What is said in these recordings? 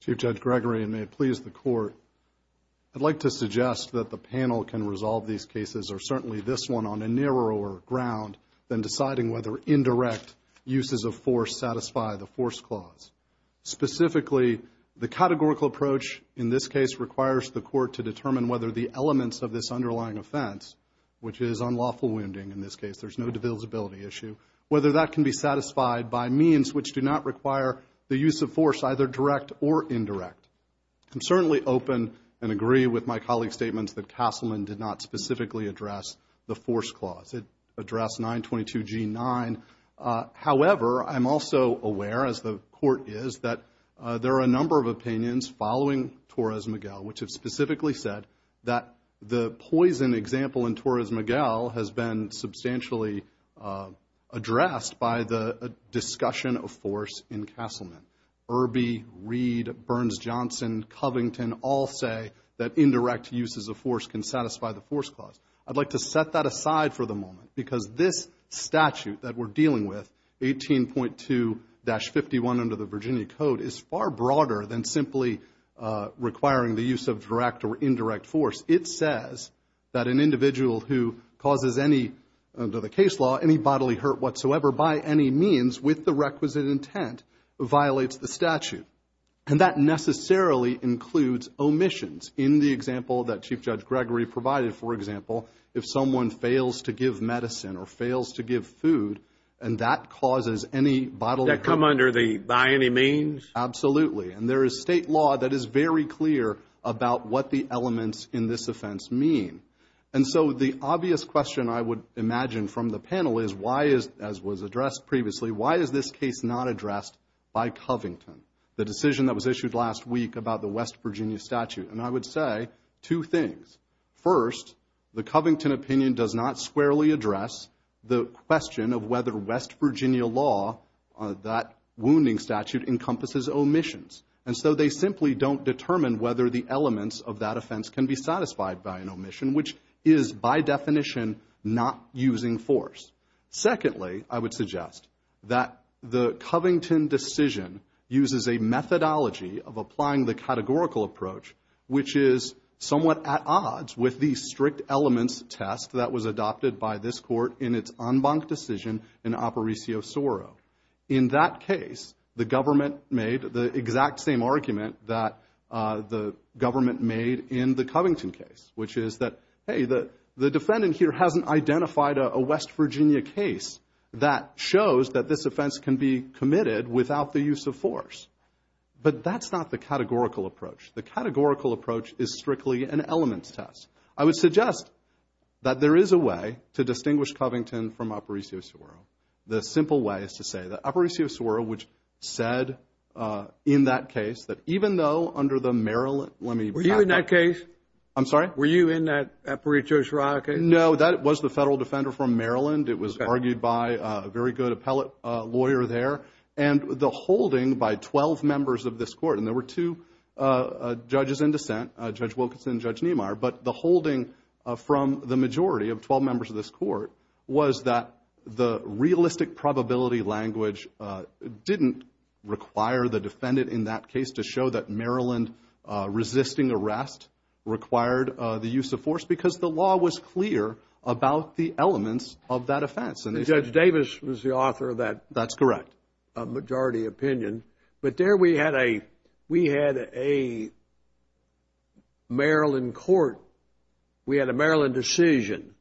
Chief Judge Gregory, and may it please the Court, I'd like to suggest that the panel can resolve these cases, or certainly this one, on a narrower ground than deciding whether indirect uses of force satisfy the force clause. Specifically, the categorical approach in this case requires the Court to determine whether the elements of this underlying offense, which is unlawful wounding in this case, there's no divisibility issue, whether that can be satisfied by means which do not require the use of force, either direct or indirect. I'm certainly open and agree with my colleague's statements that Castleman did not specifically address the force clause. It addressed 922G9, however, I'm also aware, as the Court is, that there are a number of opinions following Torres-Miguel, which have specifically said that the poison example in Torres-Miguel has been substantially addressed by the discussion of force in Castleman. Irby, Reed, Burns-Johnson, Covington all say that indirect uses of force can satisfy the force clause. I'd like to set that aside for the moment because this statute that we're dealing with, 18.2-51 under the Virginia Code, is far broader than simply requiring the use of direct or indirect force. It says that an individual who causes any, under the case law, any bodily hurt whatsoever by any means with the requisite intent violates the statute. And that necessarily includes omissions. In the example that Chief Judge Gregory provided, for example, if someone fails to give medicine or fails to give food, and that causes any bodily hurt. That come under the, by any means? Absolutely. And there is state law that is very clear about what the elements in this offense mean. And so the obvious question I would imagine from the panel is why is, as was addressed previously, why is this case not addressed by Covington? The decision that was issued last week about the West Virginia statute. And I would say two things. First, the Covington opinion does not squarely address the question of whether West Virginia law, that wounding statute, encompasses omissions. And so they simply don't determine whether the elements of that offense can be satisfied by an omission, which is by definition not using force. Secondly, I would suggest that the Covington decision uses a methodology of applying the categorical approach, which is somewhat at odds with the strict elements test that was adopted by this court in its en banc decision in Apparicio Soro. In that case, the government made the exact same argument that the government made in the Covington case, which is that, hey, the defendant here hasn't identified a West Virginia case that shows that this offense can be committed without the use of force. But that's not the categorical approach. The categorical approach is strictly an elements test. I would suggest that there is a way to distinguish Covington from Apparicio Soro. The simple way is to say that Apparicio Soro, which said in that case that even though under the Maryland, let me back up. Were you in that case? I'm sorry? Were you in that Apparicio Soro case? No, that was the federal defender from Maryland. It was argued by a very good appellate lawyer there. And the holding by 12 members of this court, and there were two judges in dissent, Judge Wilkinson and Judge Niemeyer. But the holding from the majority of 12 members of this court was that the realistic probability language didn't require the defendant in that case to show that Maryland resisting arrest required the use of force because the law was clear about the elements of that offense. And Judge Davis was the author of that. That's correct. A majority opinion. But there we had a Maryland court, we had a Maryland decision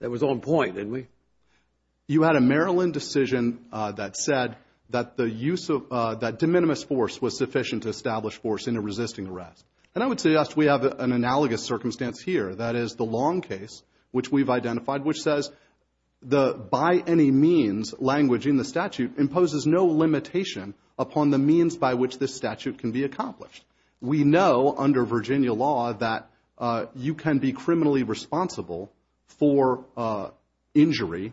that was on point, didn't we? You had a Maryland decision that said that the use of, that de minimis force was sufficient to establish force in a resisting arrest. And I would suggest we have an analogous circumstance here. That is the Long case, which we've identified, which says the by any means language in the statute imposes no limitation upon the means by which this statute can be accomplished. We know under Virginia law that you can be criminally responsible for injury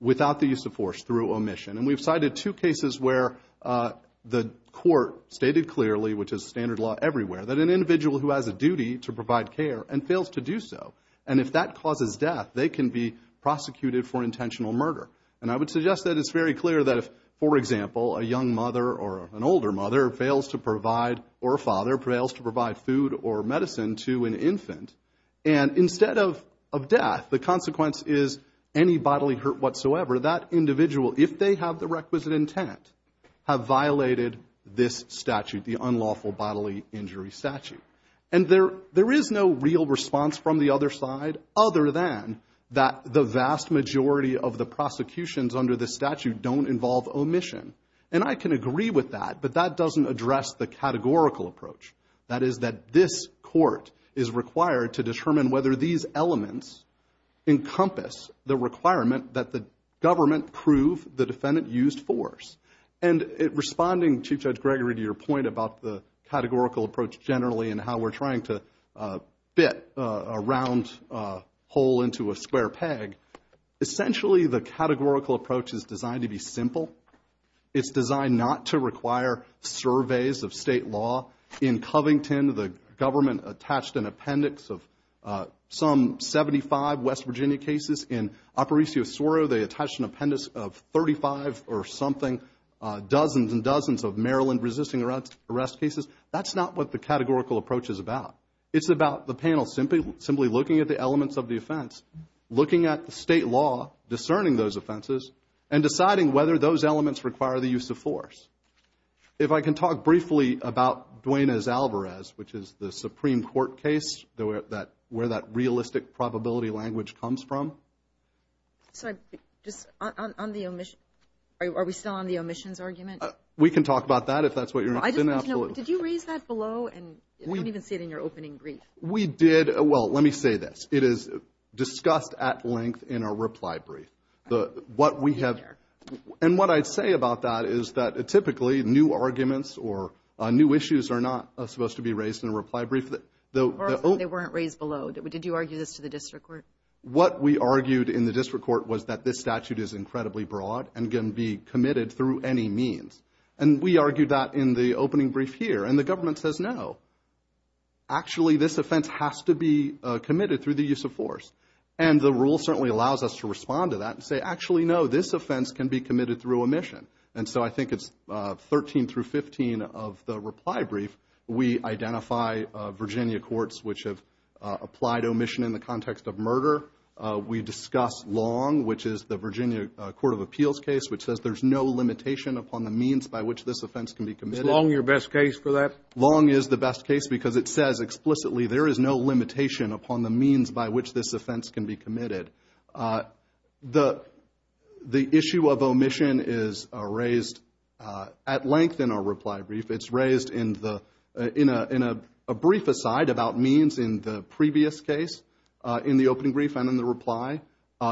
without the use of force through omission. And we've cited two cases where the court stated clearly, which is standard law everywhere, that an individual who has a duty to provide care and fails to do so, and if that causes death, they can be prosecuted for intentional murder. And I would suggest that it's very clear that if, for example, a young mother or an older mother fails to provide, or a father fails to provide food or medicine to an infant, and instead of death, the consequence is any bodily hurt whatsoever. That individual, if they have the requisite intent, have violated this statute, the unlawful bodily injury statute. And there is no real response from the other side other than that the vast majority of the prosecutions under this statute don't involve omission. And I can agree with that, but that doesn't address the categorical approach. That is that this court is required to determine whether these elements encompass the requirement that the government prove the defendant used force. And responding, Chief Judge Gregory, to your point about the categorical approach generally and how we're trying to bit a round hole into a square peg. Essentially, the categorical approach is designed to be simple. It's designed not to require surveys of state law. In Covington, the government attached an appendix of some 75 West Virginia cases. In Aparicio, Soro, they attached an appendix of 35 or something, dozens and dozens of Maryland resisting arrest cases. That's not what the categorical approach is about. It's about the panel simply looking at the elements of the offense, looking at the state law, discerning those offenses, and deciding whether those elements require the use of force. If I can talk briefly about Duane A. Alvarez, which is the Supreme Court case where that realistic probability language comes from. So just on the omission, are we still on the omissions argument? We can talk about that if that's what you're asking. Did you raise that below and I don't even see it in your opening brief? We did. Well, let me say this. It is discussed at length in our reply brief. And what I'd say about that is that typically new arguments or new issues are not supposed to be raised in a reply brief. They weren't raised below. Did you argue this to the district court? What we argued in the district court was that this statute is incredibly broad and can be committed through any means. And we argued that in the opening brief here. And the government says, no. Actually, this offense has to be committed through the use of force. And the rule certainly allows us to respond to that and say, actually, no, this offense can be committed through omission. And so I think it's 13 through 15 of the reply brief. We identify Virginia courts which have applied omission in the context of murder. We discuss Long, which is the Virginia Court of Appeals case, which says there's no limitation upon the means by which this offense can be committed. Is Long your best case for that? Long is the best case because it says explicitly there is no limitation upon the means by which this offense can be committed. The issue of omission is raised at length in our reply brief. It's raised in a brief aside about means in the previous case, in the opening brief and in the reply.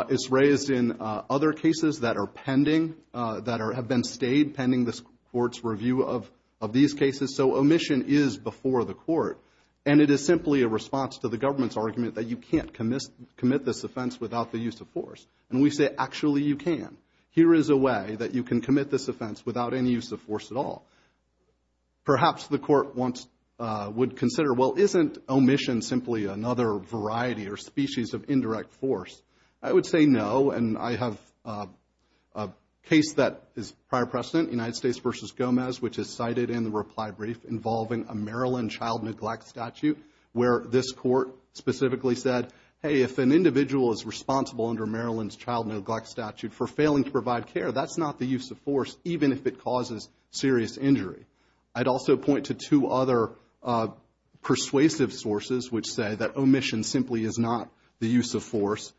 It's raised in other cases that are pending, that have been stayed pending this court's review of these cases. So omission is before the court. And it is simply a response to the government's argument that you can't commit this offense without the use of force. And we say, actually, you can. Here is a way that you can commit this offense without any use of force at all. Perhaps the court would consider, well, isn't omission simply another variety or species of indirect force? I would say no. And I have a case that is prior precedent, United States v. Gomez, which is cited in the reply brief involving a Maryland child neglect statute where this court specifically said, hey, if an individual is responsible under Maryland's child neglect statute for failing to provide care, that's not the use of force, even if it causes serious injury. I'd also point to two other persuasive sources which say that omission simply is not the use of force.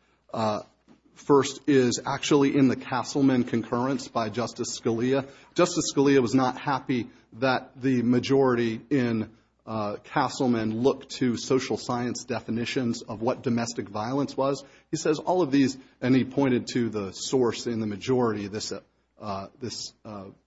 First is actually in the Castleman concurrence by Justice Scalia. Justice Scalia was not happy that the majority in Castleman looked to social science definitions of what domestic violence was. He says all of these, and he pointed to the source in the majority of this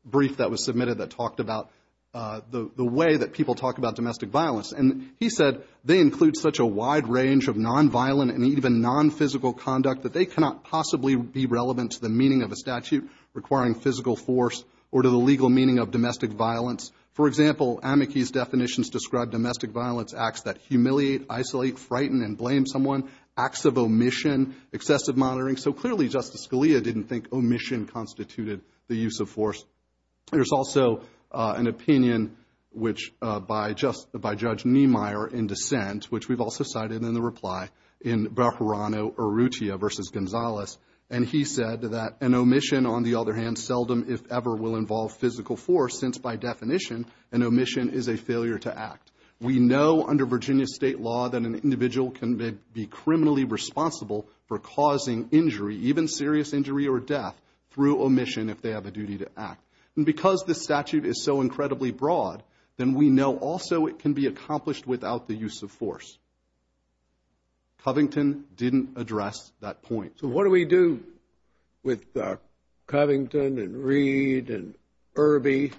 brief that was submitted that talked about the way that people talk about domestic violence. And he said they include such a wide range of nonviolent and even nonphysical conduct that they cannot possibly be relevant to the meaning of a statute requiring physical force or to the legal meaning of domestic violence. For example, Amici's definitions describe domestic violence acts that humiliate, isolate, frighten, and blame someone, acts of omission, excessive monitoring. So clearly Justice Scalia didn't think omission constituted the use of force. There's also an opinion which by Judge Niemeyer in dissent, which we've also cited in the reply in Bajorano Urrutia versus Gonzalez. And he said that an omission, on the other hand, seldom, if ever, will involve physical force since by definition an omission is a failure to act. We know under Virginia state law that an individual can be criminally responsible for causing injury, even serious injury or death, through omission if they have a duty to act. And because this statute is so incredibly broad, then we know also it can be accomplished without the use of force. Covington didn't address that point. So what do we do with Covington and Reed and Irby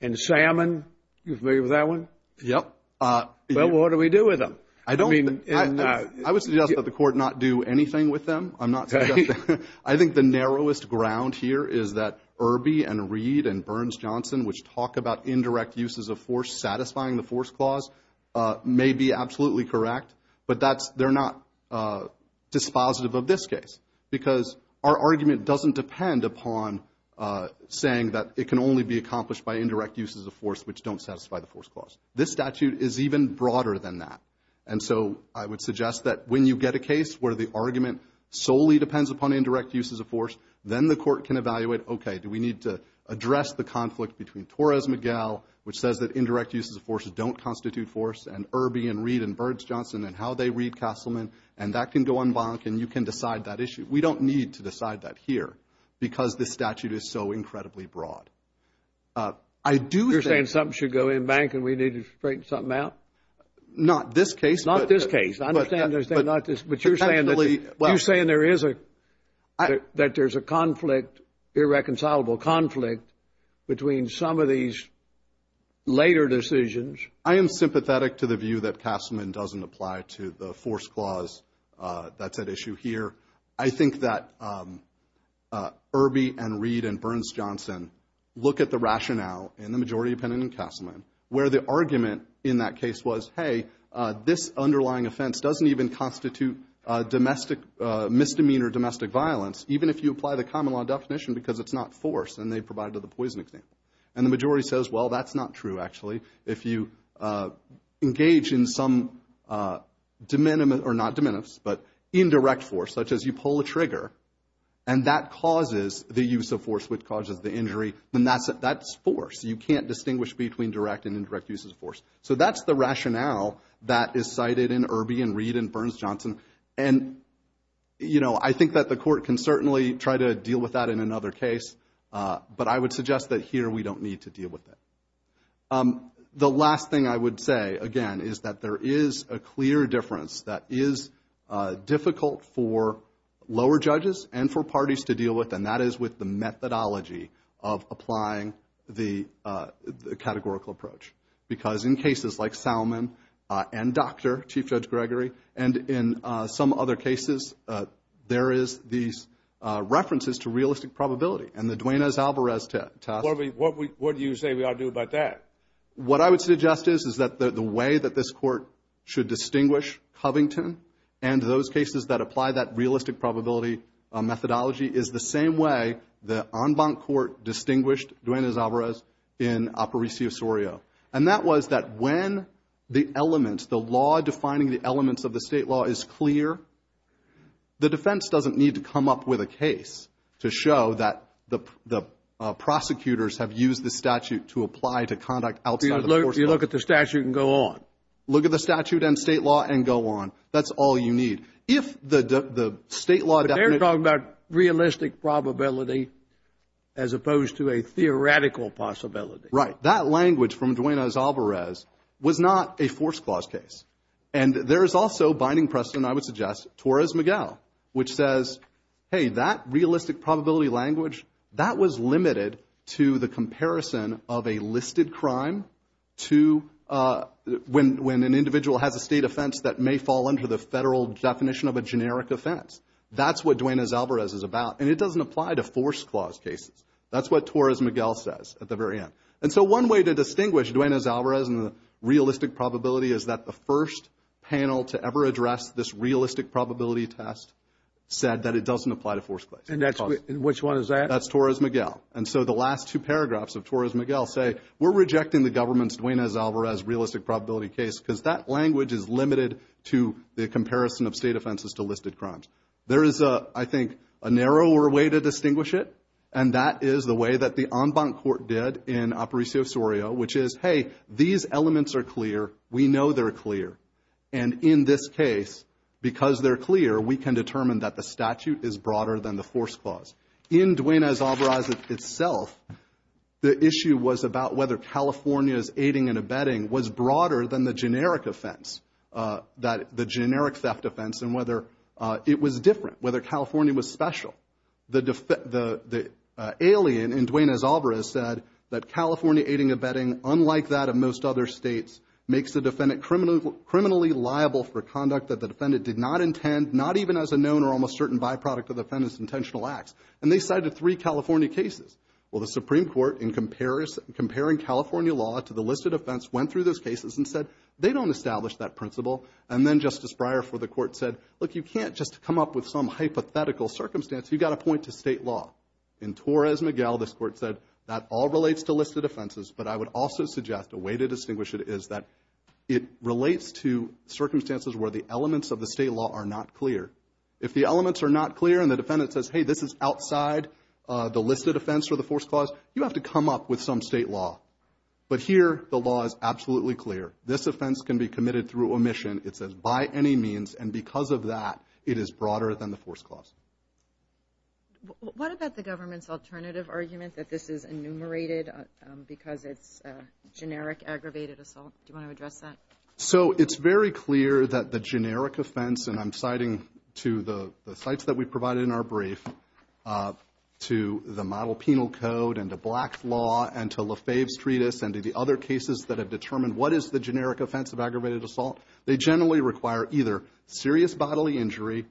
and Salmon? You familiar with that one? Yep. Well, what do we do with them? I don't think, I would suggest that the court not do anything with them. I'm not suggesting, I think the narrowest ground here is that Irby and Reed and Burns-Johnson, which talk about indirect uses of force satisfying the force clause, may be absolutely correct. But that's, they're not dispositive of this case because our argument doesn't depend upon saying that it can only be accomplished by indirect uses of force which don't satisfy the force clause. This statute is even broader than that. And so I would suggest that when you get a case where the argument solely depends upon indirect uses of force, then the court can evaluate, okay, do we need to address the conflict between Torres-Miguel, which says that indirect uses of force don't constitute force, and Irby and Reed and Burns-Johnson and how they read Castleman, and that can go en banc and you can decide that issue. We don't need to decide that here because this statute is so incredibly broad. I do think... You're saying something should go en banc and we need to straighten something out? Not this case. Not this case. I understand there's not this, but you're saying there is a, that there's a conflict, irreconcilable conflict between some of these later decisions. I am sympathetic to the view that Castleman doesn't apply to the force clause that's at issue here. I think that Irby and Reed and Burns-Johnson look at the rationale in the majority opinion in this case was, hey, this underlying offense doesn't even constitute domestic misdemeanor, domestic violence, even if you apply the common law definition because it's not force, and they provided the poison example. And the majority says, well, that's not true, actually. If you engage in some de minimis, or not de minimis, but indirect force, such as you pull a trigger and that causes the use of force, which causes the injury, then that's force. You can't distinguish between direct and indirect uses of force. So that's the rationale that is cited in Irby and Reed and Burns-Johnson. And, you know, I think that the court can certainly try to deal with that in another case, but I would suggest that here we don't need to deal with it. The last thing I would say, again, is that there is a clear difference that is difficult for lower judges and for parties to deal with, and that is with the methodology of applying the categorical approach. Because in cases like Salmon and Dr., Chief Judge Gregory, and in some other cases, there is these references to realistic probability. And the Duane S. Alvarez test... Well, what do you say we ought to do about that? What I would suggest is that the way that this court should distinguish Covington and those cases that apply that realistic probability methodology is the same way the en banc court distinguished Duane S. Alvarez in Aparicio Surio. That was that when the elements, the law defining the elements of the state law is clear, the defense doesn't need to come up with a case to show that the prosecutors have used the statute to apply to conduct outside of the course of... You look at the statute and go on. Look at the statute and state law and go on. That's all you need. If the state law... But they're talking about realistic probability as opposed to a theoretical possibility. Right. That language from Duane S. Alvarez was not a force clause case. And there is also binding precedent, I would suggest, Torres-Miguel, which says, hey, that realistic probability language, that was limited to the comparison of a listed crime to when an individual has a state offense that may fall under the federal definition of a generic offense. That's what Duane S. Alvarez is about. And it doesn't apply to force clause cases. That's what Torres-Miguel says at the very end. One way to distinguish Duane S. Alvarez and the realistic probability is that the first panel to ever address this realistic probability test said that it doesn't apply to force clause. And that's... Which one is that? That's Torres-Miguel. And so the last two paragraphs of Torres-Miguel say, we're rejecting the government's Duane S. Alvarez realistic probability case because that language is limited to the comparison of state offenses to listed crimes. There is, I think, a narrower way to distinguish it. And that is the way that the en banc court did in Aparicio Surio, which is, hey, these elements are clear. We know they're clear. And in this case, because they're clear, we can determine that the statute is broader than the force clause. In Duane S. Alvarez itself, the issue was about whether California's aiding and abetting was broader than the generic offense, the generic theft offense, and whether it was different, whether California was special. The alien in Duane S. Alvarez said that California aiding and abetting, unlike that of most other states, makes the defendant criminally liable for conduct that the defendant did not intend, not even as a known or almost certain byproduct of the defendant's intentional acts. And they cited three California cases. Well, the Supreme Court, in comparing California law to the listed offense, went through those cases and said, they don't establish that principle. And then Justice Breyer for the court said, look, you can't just come up with some hypothetical circumstance. You've got to point to state law. In Torres-Miguel, this court said, that all relates to listed offenses. But I would also suggest a way to distinguish it is that it relates to circumstances where the elements of the state law are not clear. If the elements are not clear and the defendant says, hey, this is outside the listed offense or the force clause, you have to come up with some state law. But here, the law is absolutely clear. This offense can be committed through omission, it says, by any means. And because of that, it is broader than the force clause. What about the government's alternative argument that this is enumerated because it's a generic aggravated assault? Do you want to address that? So it's very clear that the generic offense, and I'm citing to the sites that we provided in our brief, to the model penal code and to Black's law and to Lefebvre's treatise and to the other cases that have determined what is the generic offense of aggravated assault. They generally require either serious bodily injury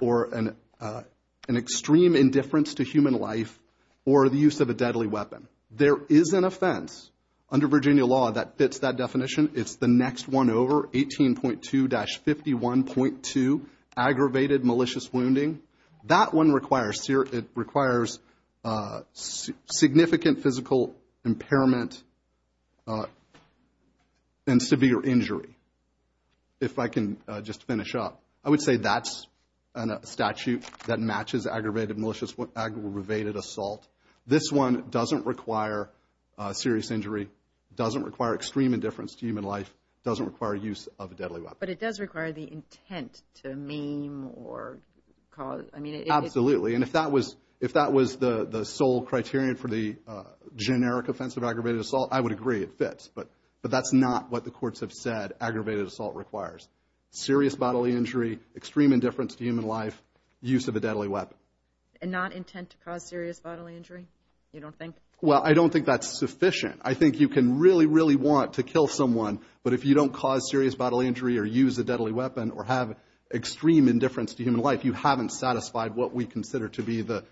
or an extreme indifference to human life or the use of a deadly weapon. There is an offense under Virginia law that fits that definition. It's the next one over, 18.2-51.2, aggravated malicious wounding. That one requires significant physical impairment and severe injury. If I can just finish up, I would say that's a statute that matches aggravated malicious aggravated assault. This one doesn't require serious injury, doesn't require extreme indifference to human life, doesn't require use of a deadly weapon. But it does require the intent to maim or cause, I mean, it's... Absolutely. And if that was the sole criterion for the generic offense of aggravated assault, I would agree, it fits. But that's not what the courts have said aggravated assault requires. Serious bodily injury, extreme indifference to human life, use of a deadly weapon. And not intent to cause serious bodily injury, you don't think? Well, I don't think that's sufficient. I think you can really, really want to kill someone, but if you don't cause serious bodily injury or use a deadly weapon or have extreme indifference to human life, you haven't satisfied what we consider to be the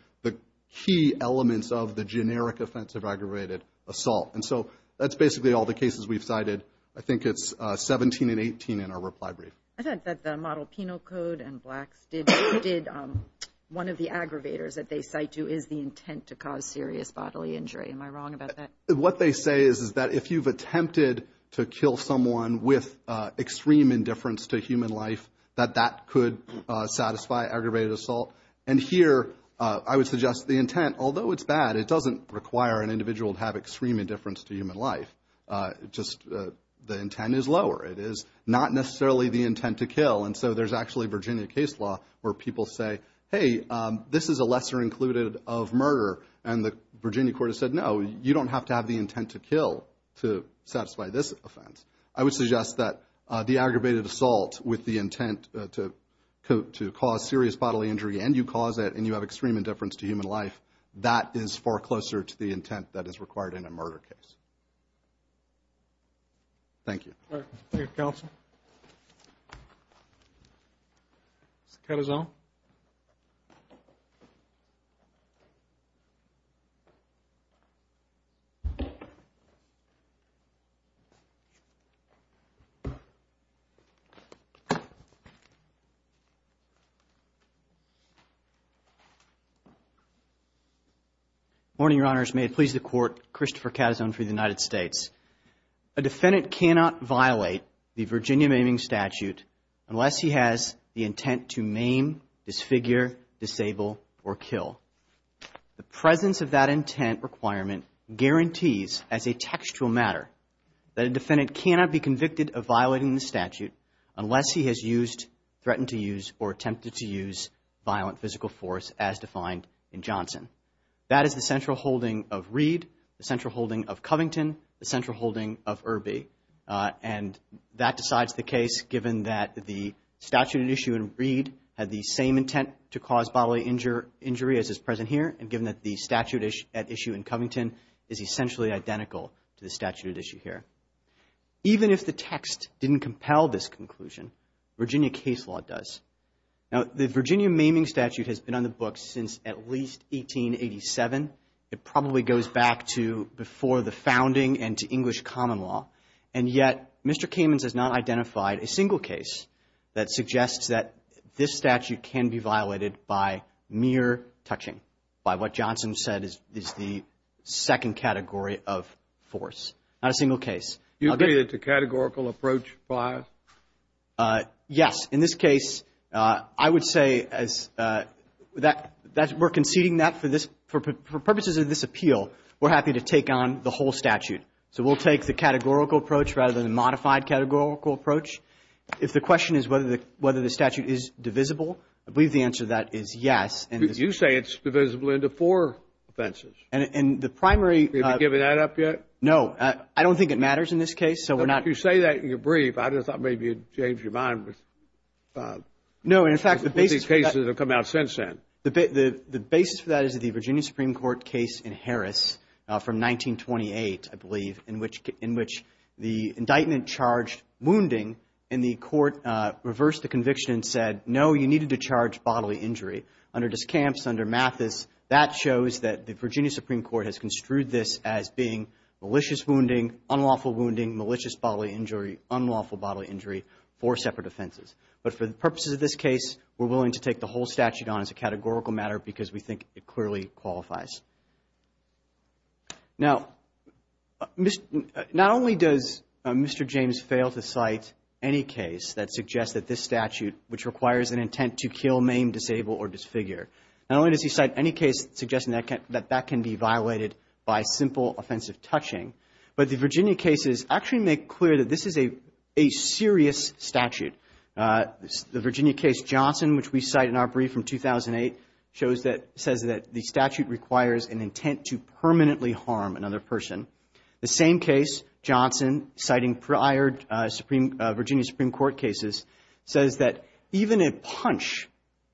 key elements of the generic offense of aggravated assault. And so that's basically all the cases we've cited. I think it's 17 and 18 in our reply brief. I thought that the Model Penal Code and Blacks did one of the aggravators that they cite to is the intent to cause serious bodily injury. Am I wrong about that? What they say is that if you've attempted to kill someone with extreme indifference to human life, that that could satisfy aggravated assault. And here, I would suggest the intent, although it's bad, it doesn't require an individual to have extreme indifference to human life, just the intent is lower. It is not necessarily the intent to kill. And so there's actually Virginia case law where people say, hey, this is a lesser included of murder. And the Virginia court has said, no, you don't have to have the intent to kill to satisfy this offense. I would suggest that the aggravated assault with the intent to cause serious bodily injury and you cause it and you have extreme indifference to human life, that is far closer to the intent that is required in a murder case. Thank you. All right. Thank you, counsel. Mr. Carrizale. Good morning, Your Honors. May it please the Court. Christopher Carrizale for the United States. A defendant cannot violate the Virginia maiming statute unless he has the intent to maim, disfigure, disable, or kill. The presence of that intent requirement guarantees as a textual matter that a defendant cannot be convicted of violating the statute unless he has used, threatened to use, or attempted That is the central holding of Reed, the central holding of Covington, the central holding of Irby. And that decides the case given that the statute at issue in Reed had the same intent to cause bodily injury as is present here and given that the statute at issue in Covington is essentially identical to the statute at issue here. Even if the text didn't compel this conclusion, Virginia case law does. Now, the Virginia maiming statute has been on the books since at least 1887. It probably goes back to before the founding and to English common law. And yet, Mr. Kamens has not identified a single case that suggests that this statute can be violated by mere touching, by what Johnson said is the second category of force. Not a single case. You agree that it's a categorical approach? Yes. In this case, I would say that we're conceding that for purposes of this appeal, we're happy to take on the whole statute. So we'll take the categorical approach rather than the modified categorical approach. If the question is whether the statute is divisible, I believe the answer to that is yes. You say it's divisible into four offenses. And the primary Have you given that up yet? No. I don't think it matters in this case. So we're not You say that in your brief. I just thought maybe you'd change your mind with No. And in fact, the basis of cases that have come out since then. The basis for that is the Virginia Supreme Court case in Harris from 1928, I believe, in which the indictment charged wounding and the court reversed the conviction and said, no, you needed to charge bodily injury. Under Discamps, under Mathis, that shows that the Virginia Supreme Court has construed this as being malicious wounding, unlawful wounding, malicious bodily injury, unlawful bodily injury, four separate offenses. But for the purposes of this case, we're willing to take the whole statute on as a categorical matter because we think it clearly qualifies. Now, not only does Mr. James fail to cite any case that suggests that this statute, which requires an intent to kill, maim, disable or disfigure, not only does he cite any case suggesting that that can be violated by simple offensive touching, but the Virginia cases actually make clear that this is a serious statute. The Virginia case Johnson, which we cite in our brief from 2008, shows that, says that the statute requires an intent to permanently harm another person. The same case, Johnson, citing prior Virginia Supreme Court cases, says that even a punch,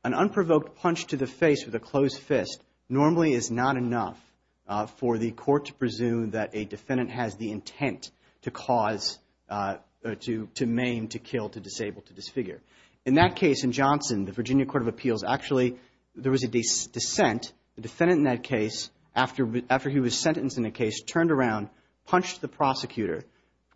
an unprovoked punch to the face with a closed fist, normally is not enough for the court to presume that a defendant has the intent to cause, to maim, to kill, to disable, to disfigure. In that case in Johnson, the Virginia Court of Appeals, actually, there was a dissent. The defendant in that case, after he was sentenced in the case, turned around, punched the prosecutor,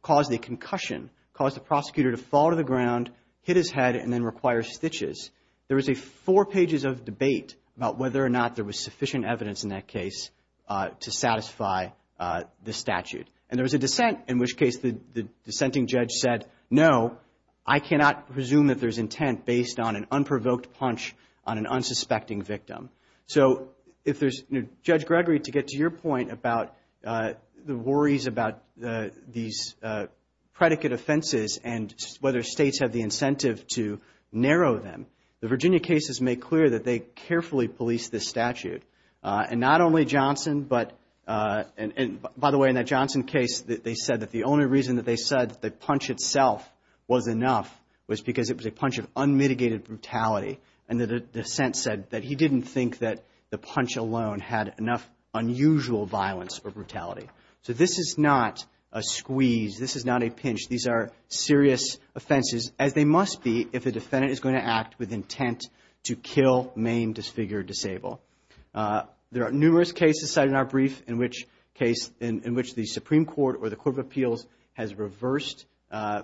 caused a concussion, caused the prosecutor to fall to the ground, hit his head and then require stitches. There was four pages of debate about whether or not there was sufficient evidence in that case to satisfy the statute. And there was a dissent, in which case the dissenting judge said, no, I cannot presume that there's intent based on an unprovoked punch on an unsuspecting victim. So if there's, Judge Gregory, to get to your point about the worries about these predicate offenses and whether states have the incentive to narrow them, the Virginia cases make clear that they carefully police this statute. And not only Johnson, but, by the way, in that Johnson case, they said that the only reason that they said that the punch itself was enough was because it was a punch of unmitigated brutality. And the dissent said that he didn't think that the punch alone had enough unusual violence or brutality. So this is not a squeeze. This is not a pinch. These are serious offenses, as they must be if a defendant is going to act with intent to kill, maim, disfigure, or disable. There are numerous cases cited in our brief in which the Supreme Court or the Court of Appeals has reversed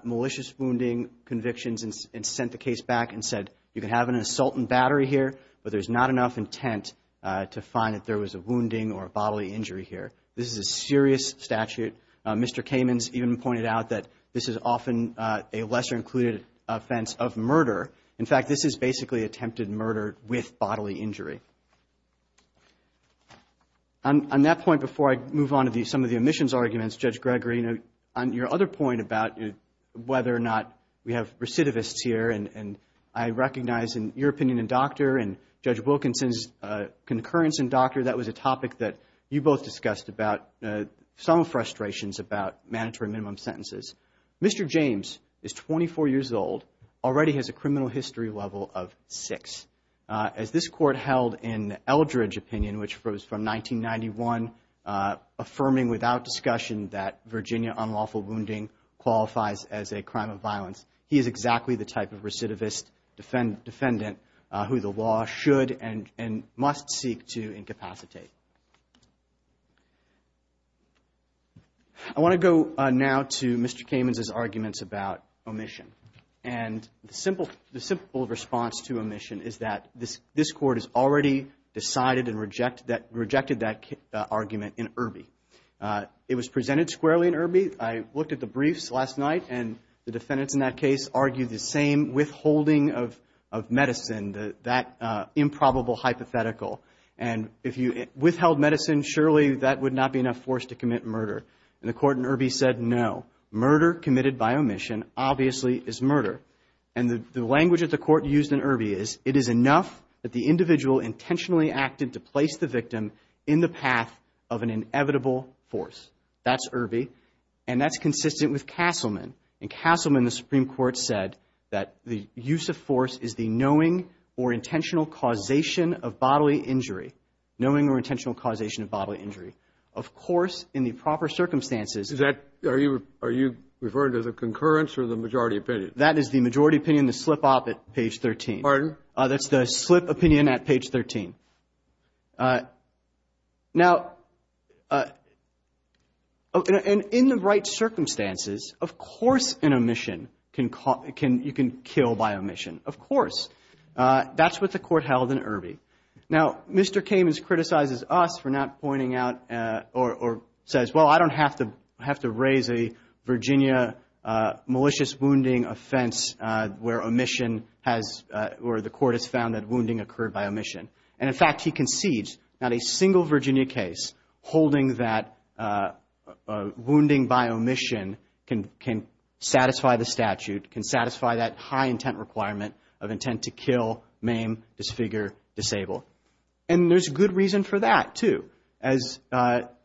malicious wounding convictions and sent the case back and said, you can have an assault and battery here, but there's not enough intent to find that there was a wounding or a bodily injury here. This is a serious statute. Mr. Kamen's even pointed out that this is often a lesser-included offense of murder. In fact, this is basically attempted murder with bodily injury. On that point, before I move on to some of the omissions arguments, Judge Gregory, on your other point about whether or not we have recidivists here, and I recognize in your opinion in Dr. and Judge Wilkinson's concurrence in Dr., that was a topic that you both discussed about some frustrations about mandatory minimum sentences. Mr. James is 24 years old, already has a criminal history level of 6. As this Court held in Eldridge opinion, which was from 1991, affirming without discussion that Virginia unlawful wounding qualifies as a crime of violence, he is exactly the type of recidivist defendant who the law should and must seek to incapacitate. I want to go now to Mr. Kamen's arguments about omission. And the simple response to omission is that this Court has already decided and rejected that argument in Irby. It was presented squarely in Irby. I looked at the briefs last night, and the defendants in that case argued the same withholding of medicine, that improbable hypothetical. And if you withheld medicine, surely that would not be enough force to commit murder. And the Court in Irby said, no, murder committed by omission obviously is murder. And the language that the Court used in Irby is, it is enough that the individual intentionally acted to place the victim in the path of an inevitable force. That's Irby, and that's consistent with Castleman. In Castleman, the Supreme Court said that the use of force is the knowing or intentional causation of bodily injury, knowing or intentional causation of bodily injury. Of course, in the proper circumstances – Is that – are you referring to the concurrence or the majority opinion? That is the majority opinion, the slip op at page 13. Pardon? That's the slip opinion at page 13. Now – and in the right circumstances, of course an omission can – you can kill by omission. Of course. That's what the Court held in Irby. Now Mr. Kamens criticizes us for not pointing out or says, well, I don't have to raise a Virginia malicious wounding offense where omission has – or the Court has found that wounding occurred by omission. And in fact, he concedes not a single Virginia case holding that wounding by omission can satisfy the statute, can satisfy that high intent requirement of intent to kill, maim, disfigure, disable. And there's good reason for that, too. As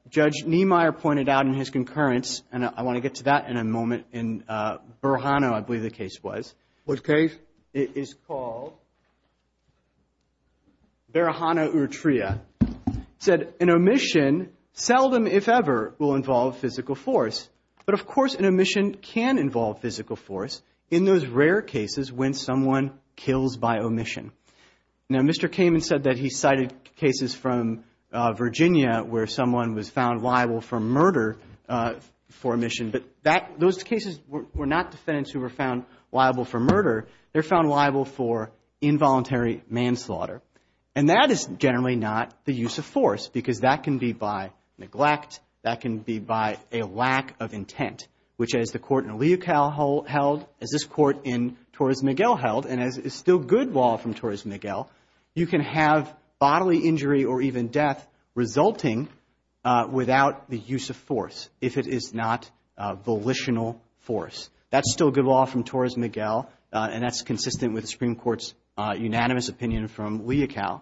Judge Niemeyer pointed out in his concurrence – and I want to get to that in a moment in Barahano, I believe the case was. What case? It is called Barahano-Urtria, said an omission seldom, if ever, will involve physical force. But of course, an omission can involve physical force in those rare cases when someone kills by omission. Now, Mr. Kamens said that he cited cases from Virginia where someone was found liable for murder for omission, but that – those cases were not defendants who were found liable for murder. They're found liable for involuntary manslaughter. And that is generally not the use of force because that can be by neglect. That can be by a lack of intent, which, as the court in Leocal held, as this court in Torres Miguel held, and as is still good law from Torres Miguel, you can have bodily injury or even death resulting without the use of force if it is not volitional force. That's still good law from Torres Miguel, and that's consistent with the Supreme Court's unanimous opinion from Leocal.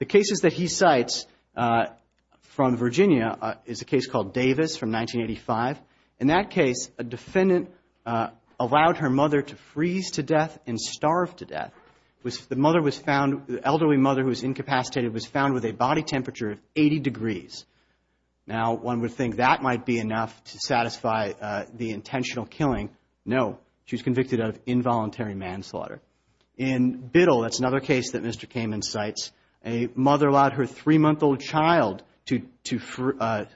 The cases that he cites from Virginia is a case called Davis from 1985. In that case, a defendant allowed her mother to freeze to death and starve to death. The mother was found – the elderly mother who was incapacitated was found with a body temperature of 80 degrees. Now, one would think that might be enough to satisfy the intentional killing. No. She was convicted of involuntary manslaughter. In Biddle, that's another case that Mr. Kamen cites, a mother allowed her three-month-old child to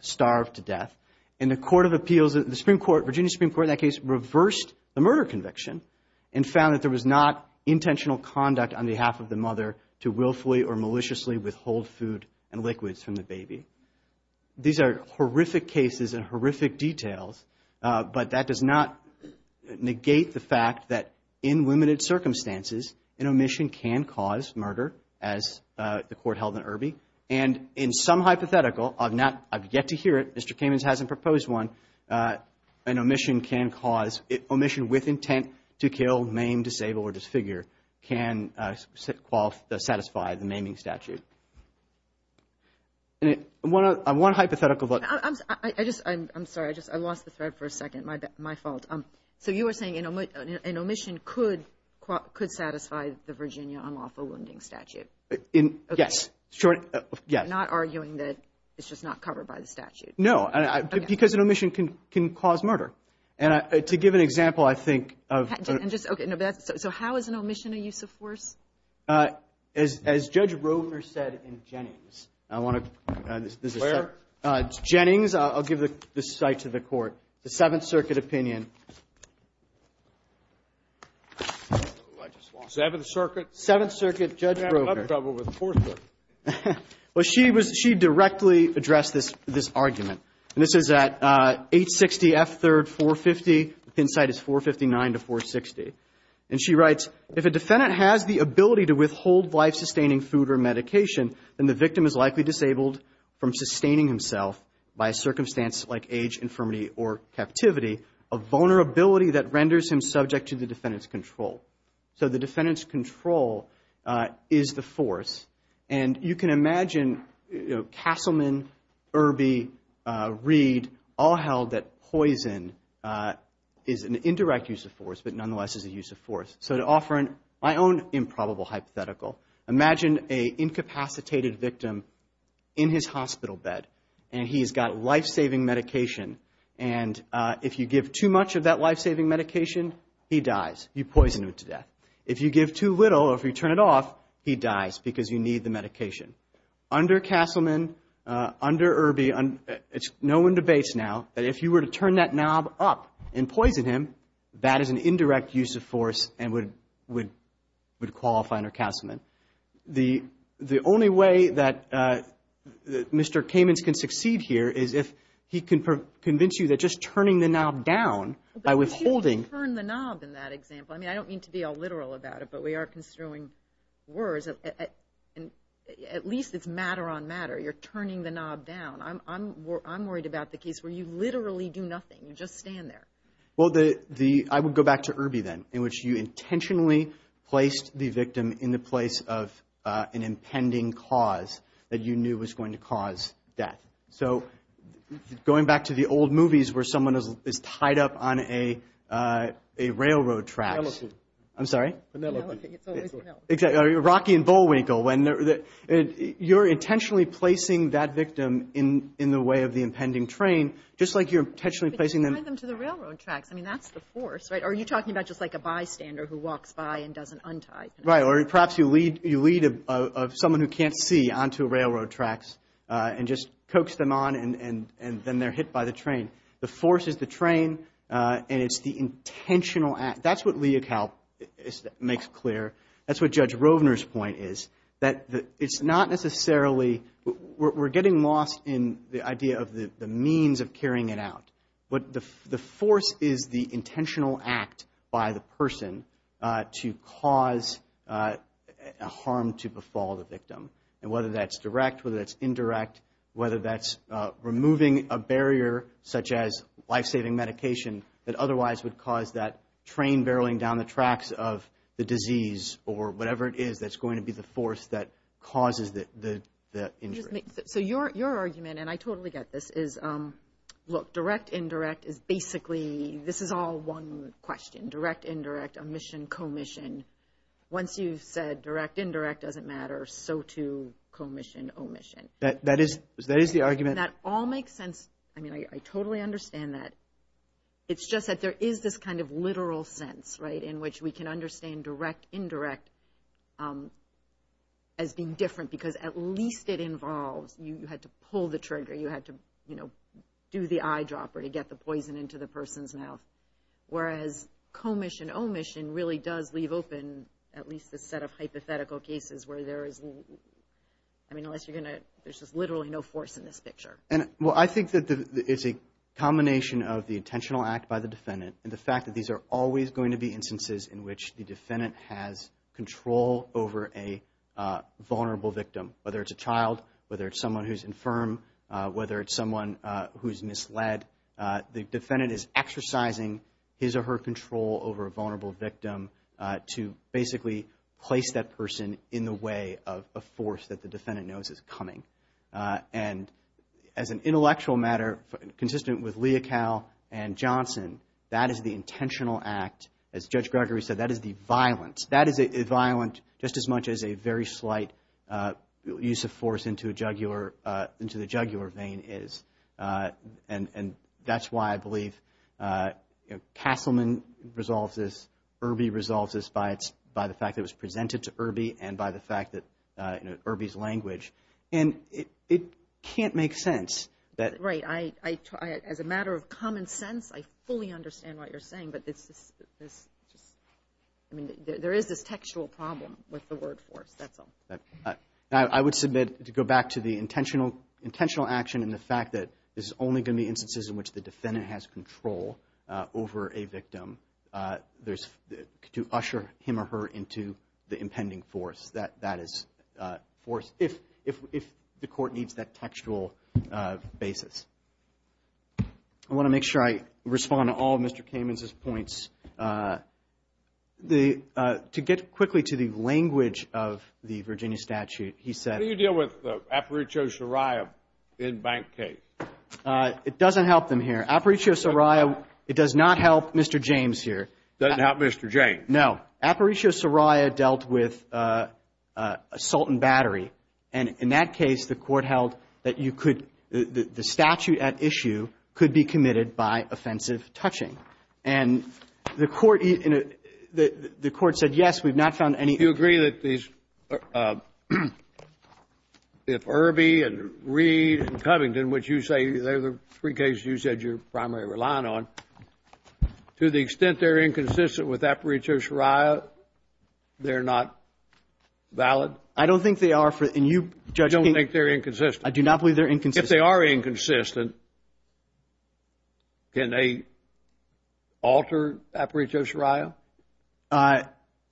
starve to death. And the Court of Appeals – the Supreme Court – Virginia Supreme Court in that case reversed the murder conviction and found that there was not intentional conduct on behalf of the mother to willfully or maliciously withhold food and liquids from the baby. These are horrific cases and horrific details, but that does not negate the fact that in limited circumstances, an omission can cause murder, as the Court held in Irby. And in some hypothetical – I've not – I've yet to hear it. Mr. Kamen hasn't proposed one. An omission can cause – omission with intent to kill, maim, disable, or disfigure can satisfy the maiming statute. One hypothetical – I'm sorry. I just – I lost the thread for a second. My fault. So you were saying an omission could satisfy the Virginia unlawful wounding statute. Yes. Short – yes. I'm not arguing that it's just not covered by the statute. No. Because an omission can cause murder. And to give an example, I think of – And just – okay. So how is an omission a use of force? As Judge Roever said in Jennings, I want to – there's a – Where? Jennings. Jennings. I'll give the site to the Court. The Seventh Circuit opinion. Oh, I just lost it. Seventh Circuit. Seventh Circuit, Judge Roever. I'm having a lot of trouble with the Fourth Circuit. Well, she was – she directly addressed this – this argument. And this is at 860 F. 3rd, 450. The pin site is 459 to 460. And she writes, if a defendant has the ability to withhold life-sustaining food or medication, I'm arguing that. I'm arguing that. I'm arguing that. I'm arguing that. I'm arguing that. I'm arguing that. There's a death penalty under the Corp of Hands act under a certain circumstance like age, infirmity or captivity. So the defendant's control is the force. So the defendant's control is the force. castleman, Erbe, Reid all held that poison is an indirect use of force but nonetheless is a use of force. So to offer my own improbable hypothetical. Imagine a incapacitated victim in his hospital bed and he's got life-saving medication and if you give too much of that life-saving medication, he dies. You poison him to death. If you give too little or if you turn it off, he dies because you need the medication. Under castleman, under Erbe, no one debates now that if you were to turn that knob up and poison him, that is an indirect use of force and would qualify under castleman. The only way that Mr. Kamens can succeed here is if he can convince you that just turning the knob down by withholding. But you didn't turn the knob in that example. I mean, I don't mean to be all literal about it but we are construing words and at least it's matter on matter. You're turning the knob down. I'm worried about the case where you literally do nothing. You just stand there. Well, I would go back to Erbe then in which you intentionally placed the victim in the place of an impending cause that you knew was going to cause death. So going back to the old movies where someone is tied up on a railroad track. Penelope. I'm sorry? Penelope. It's always Penelope. Exactly. Rocky and Bullwinkle. You're intentionally placing that victim in the way of the impending train just like you're intentionally placing them. But you tie them to the railroad tracks. I mean, that's the force, right? Or are you talking about just like a bystander who walks by and doesn't untie Penelope? Or perhaps you lead someone who can't see onto railroad tracks and just coax them on and then they're hit by the train. The force is the train and it's the intentional act. That's what Leocal makes clear. That's what Judge Rovner's point is that it's not necessarily we're getting lost in the idea But the force is the intentional act by the person to cause death. A harm to befall the victim. And whether that's direct, whether that's indirect, whether that's removing a barrier such as life-saving medication that otherwise would cause that train barreling down the tracks of the disease or whatever it is that's going to be the force that causes the injury. So your argument, and I totally get this, is look, direct-indirect is basically this is all one question, direct-indirect, omission-commission. Once you've said direct-indirect doesn't matter, so too commission-omission. That is the argument. That all makes sense. I totally understand that. It's just that there is this kind of literal sense in which we can understand direct-indirect as being different because at least it involves you had to pull the trigger, you had to do the eyedropper to get the poison into the person's mouth. Whereas commission-omission would open at least this set of hypothetical cases where there is, I mean unless you're going to, there's just literally no force in this picture. Well, I think that it's a combination of the intentional act by the defendant and the fact that these are always going to be instances in which the defendant has control over a vulnerable victim, whether it's a child, whether it's someone who's infirm, whether it's someone who's misled. The defendant is exercising to basically place that person in the way of a force that the defendant knows is coming. And as an intellectual matter, consistent with Leocal and Johnson, that is the intentional act. As Judge Gregory said, that is the violence. That is violent just as much as a very slight use of force into a jugular, into the jugular vein is. And that's why I believe Castleman resolves this, Irby resolves this by the fact that it was presented to Irby and by the fact that Irby's language. And it can't make sense. Right. As a matter of common sense, I fully understand what you're saying, but there is this textual problem with the word force, that's all. I would submit to go back to the intentional action and the fact that this is only going to be instances in which the defendant has control over a victim. There's, to usher him or her into the impending force, that is force, if the court needs that textual basis. I want to make sure I respond to all of Mr. Kamen's points. To get quickly to the language of the Virginia statute, he said. What do you deal with Aparicio Soraya in bank case? It doesn't help them here. Aparicio Soraya, it does not help Mr. James here. It doesn't help Mr. James. No. Aparicio Soraya dealt with assault and battery. And in that case, the court held that you could, the statute at issue could be committed by offensive touching. And the court, the court said yes, we've not found any. Do you agree that these, if Irby and Reed and Covington, which you say, they're the three cases you said you're primarily relying on, to the extent they're inconsistent with Aparicio Soraya, they're not valid? I don't think they are. And you, Judge, I don't think they're inconsistent. I do not believe they're inconsistent. If they are inconsistent, can they alter Aparicio Soraya?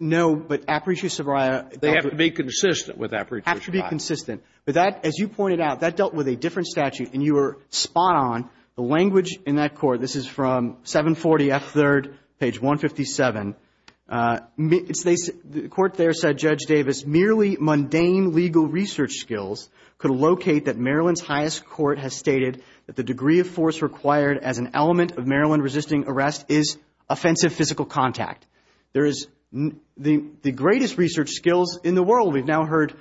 No, but Aparicio Soraya, They have to be consistent with Aparicio Soraya. Have to be consistent. But that, as you pointed out, that dealt with a different statute, and you were spot on. The language in that court, this is from 740 F. 3rd, page 157. The court there said, Judge Davis, merely mundane legal research skills could locate that Maryland's highest court has stated that the degree of force required as an element of Maryland resisting arrest is offensive physical contact. There is, the greatest research skills in the world, we've now heard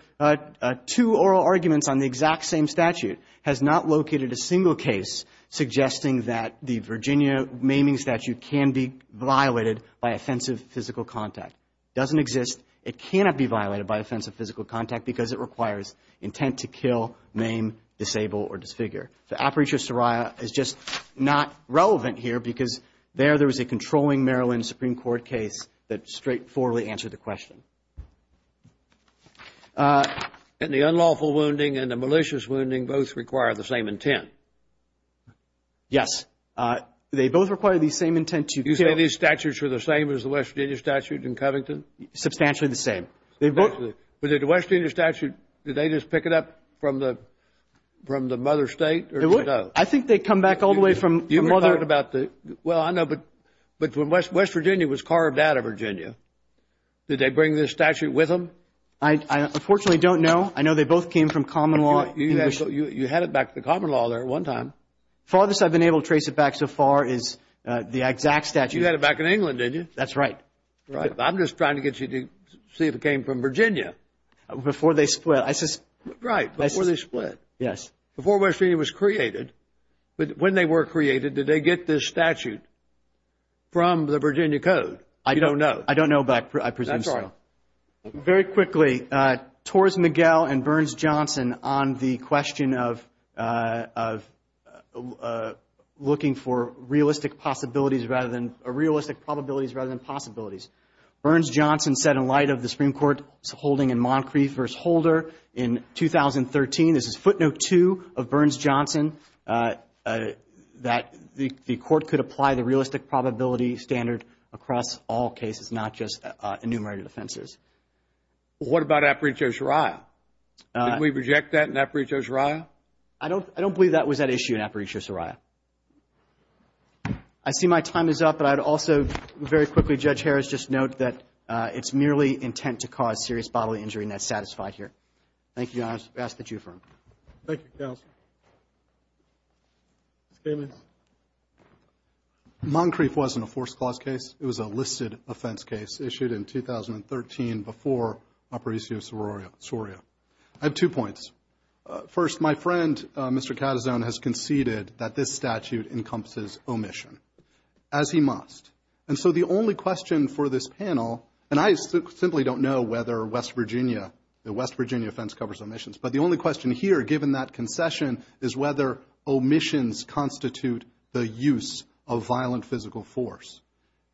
two oral arguments on the exact same statute, has not located a single case suggesting that the Virginia maiming statute can be violated by offensive physical contact. Doesn't exist. It cannot be violated by offensive physical contact because it requires intent to kill, maim, disable, or disfigure. So Aparicio Soraya is just not relevant here because there, there was a controlling Maryland Supreme Court case that straightforwardly answered the question. And the unlawful wounding and the malicious wounding both require the same intent. Yes. They both require the same intent to kill. You say these statutes are the same as the West Virginia statute in Covington? Substantially the same. Substantially. But did the West Virginia statute, did they just pick it up from the, from the mother state? They would. I think they come back all the way from the mother. You were talking about the, well I know, but when West Virginia was carved out of Virginia, did they bring this statute with them? I, I unfortunately don't know. I know they both came from common law. You had it back to the common law there at one time. Farthest I've been able to trace it back so far is the exact statute. You had it back in England, didn't you? That's right. Right. I'm just trying to get you to see if it came from Virginia. Before they split, I suspect. Right. Before they split. Yes. Before West Virginia was created, when they were created, did they get this statute from the Virginia Code? I don't know. I don't know, but I presume so. That's all right. Very quickly, Torres Miguel and Burns Johnson on the question of, looking for realistic possibilities rather than, realistic probabilities rather than possibilities. Burns Johnson said in light of the Supreme Court's holding in Moncrief v. Holder in 2013, this is footnote two of Burns Johnson, that the court could apply the realistic probability standard across all cases, What about Aparejo's Raya? Did we reject that in Aparejo's Raya? I don't believe that was at issue in Aparejo's Raya. I see my time is up, but I'd also, very quickly, Judge Harris, just note that it's merely intent to cause serious bodily injury and that's satisfied here. Thank you, Your Honor. I ask that you affirm. Thank you, counsel. Mr. Kamins. Moncrief wasn't a forced clause case. It was a listed offense case issued in 2013 before Aparejo's Raya. I have two points. First, my friend, Mr. Catazon, has conceded that this statute encompasses omission, as he must. And so the only question for this panel, and I simply don't know whether West Virginia, the West Virginia offense covers omissions, but the only question here, given that concession, is whether omissions constitute the use of violent physical force.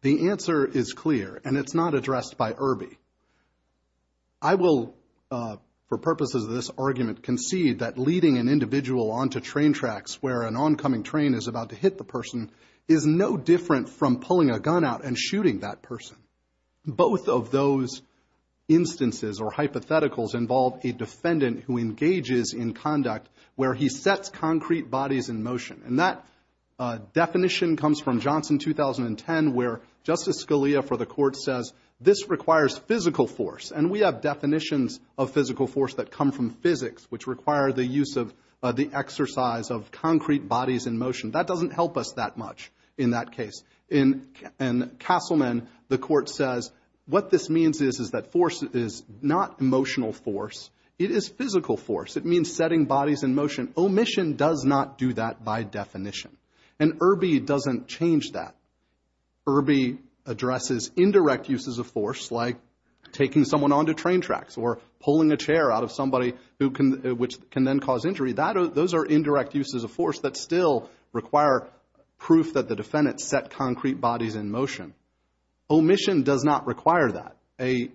The answer is clear, and it's not addressed by Irby. I will, for purposes of this argument, concede that leading an individual onto train tracks where an oncoming train is about to hit the person is no different from pulling a gun out and shooting that person. Both of those instances or hypotheticals involve a defendant who engages in conduct where he sets concrete bodies in motion. And that definition comes from Johnson, 2010, where Justice Scalia for the Court says, this requires physical force. And we have definitions of physical force that come from physics which require the use of the exercise of concrete bodies in motion. That doesn't help us that much in that case. In Castleman, the Court says, what this means is that force is not emotional force. It is physical force. It means setting bodies in motion. Omission does not do that by definition. And Irby doesn't change that. Irby addresses indirect uses of force like taking someone onto train tracks or pulling a chair out of somebody which can then cause injury. Those are indirect uses of force that still require proof that the defendant set concrete bodies in motion. Omission does not require that. A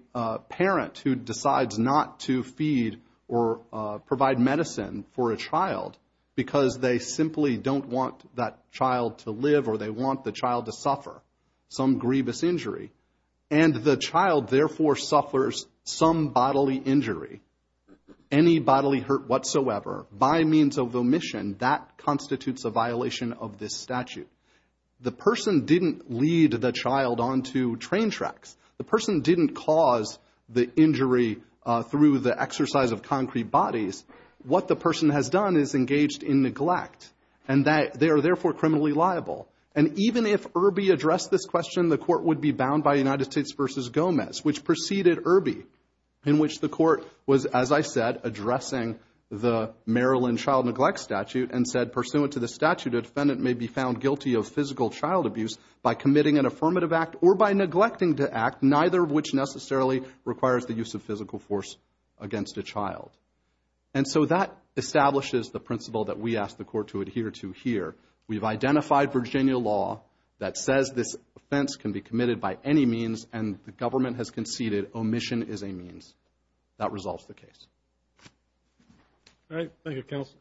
parent who decides not to feed or provide medicine for a child because they simply don't want that child to live or they want the child to suffer some grievous injury, and the child therefore suffers some bodily injury or any bodily hurt whatsoever by means of omission, that constitutes a violation of this statute. The person didn't lead the child onto train tracks. The person didn't cause the injury through the exercise of concrete bodies. What the person has done is engaged in neglect and they are therefore criminally liable. And even if Irby addressed this question, the Court would be bound by United States v. Gomez, which preceded Irby, in which the Court was, as I said, addressing the Maryland child neglect statute and said, pursuant to the statute, a defendant may be found guilty of physical child abuse by committing an affirmative act or by neglecting to act, neither of which necessarily requires the use of physical force against a child. And so that establishes the principle that we ask the Court to adhere to here. We've identified Virginia law that says this offense can be committed by any means and the government has conceded omission is a means. That resolves the case. All right. Thank you, counsel.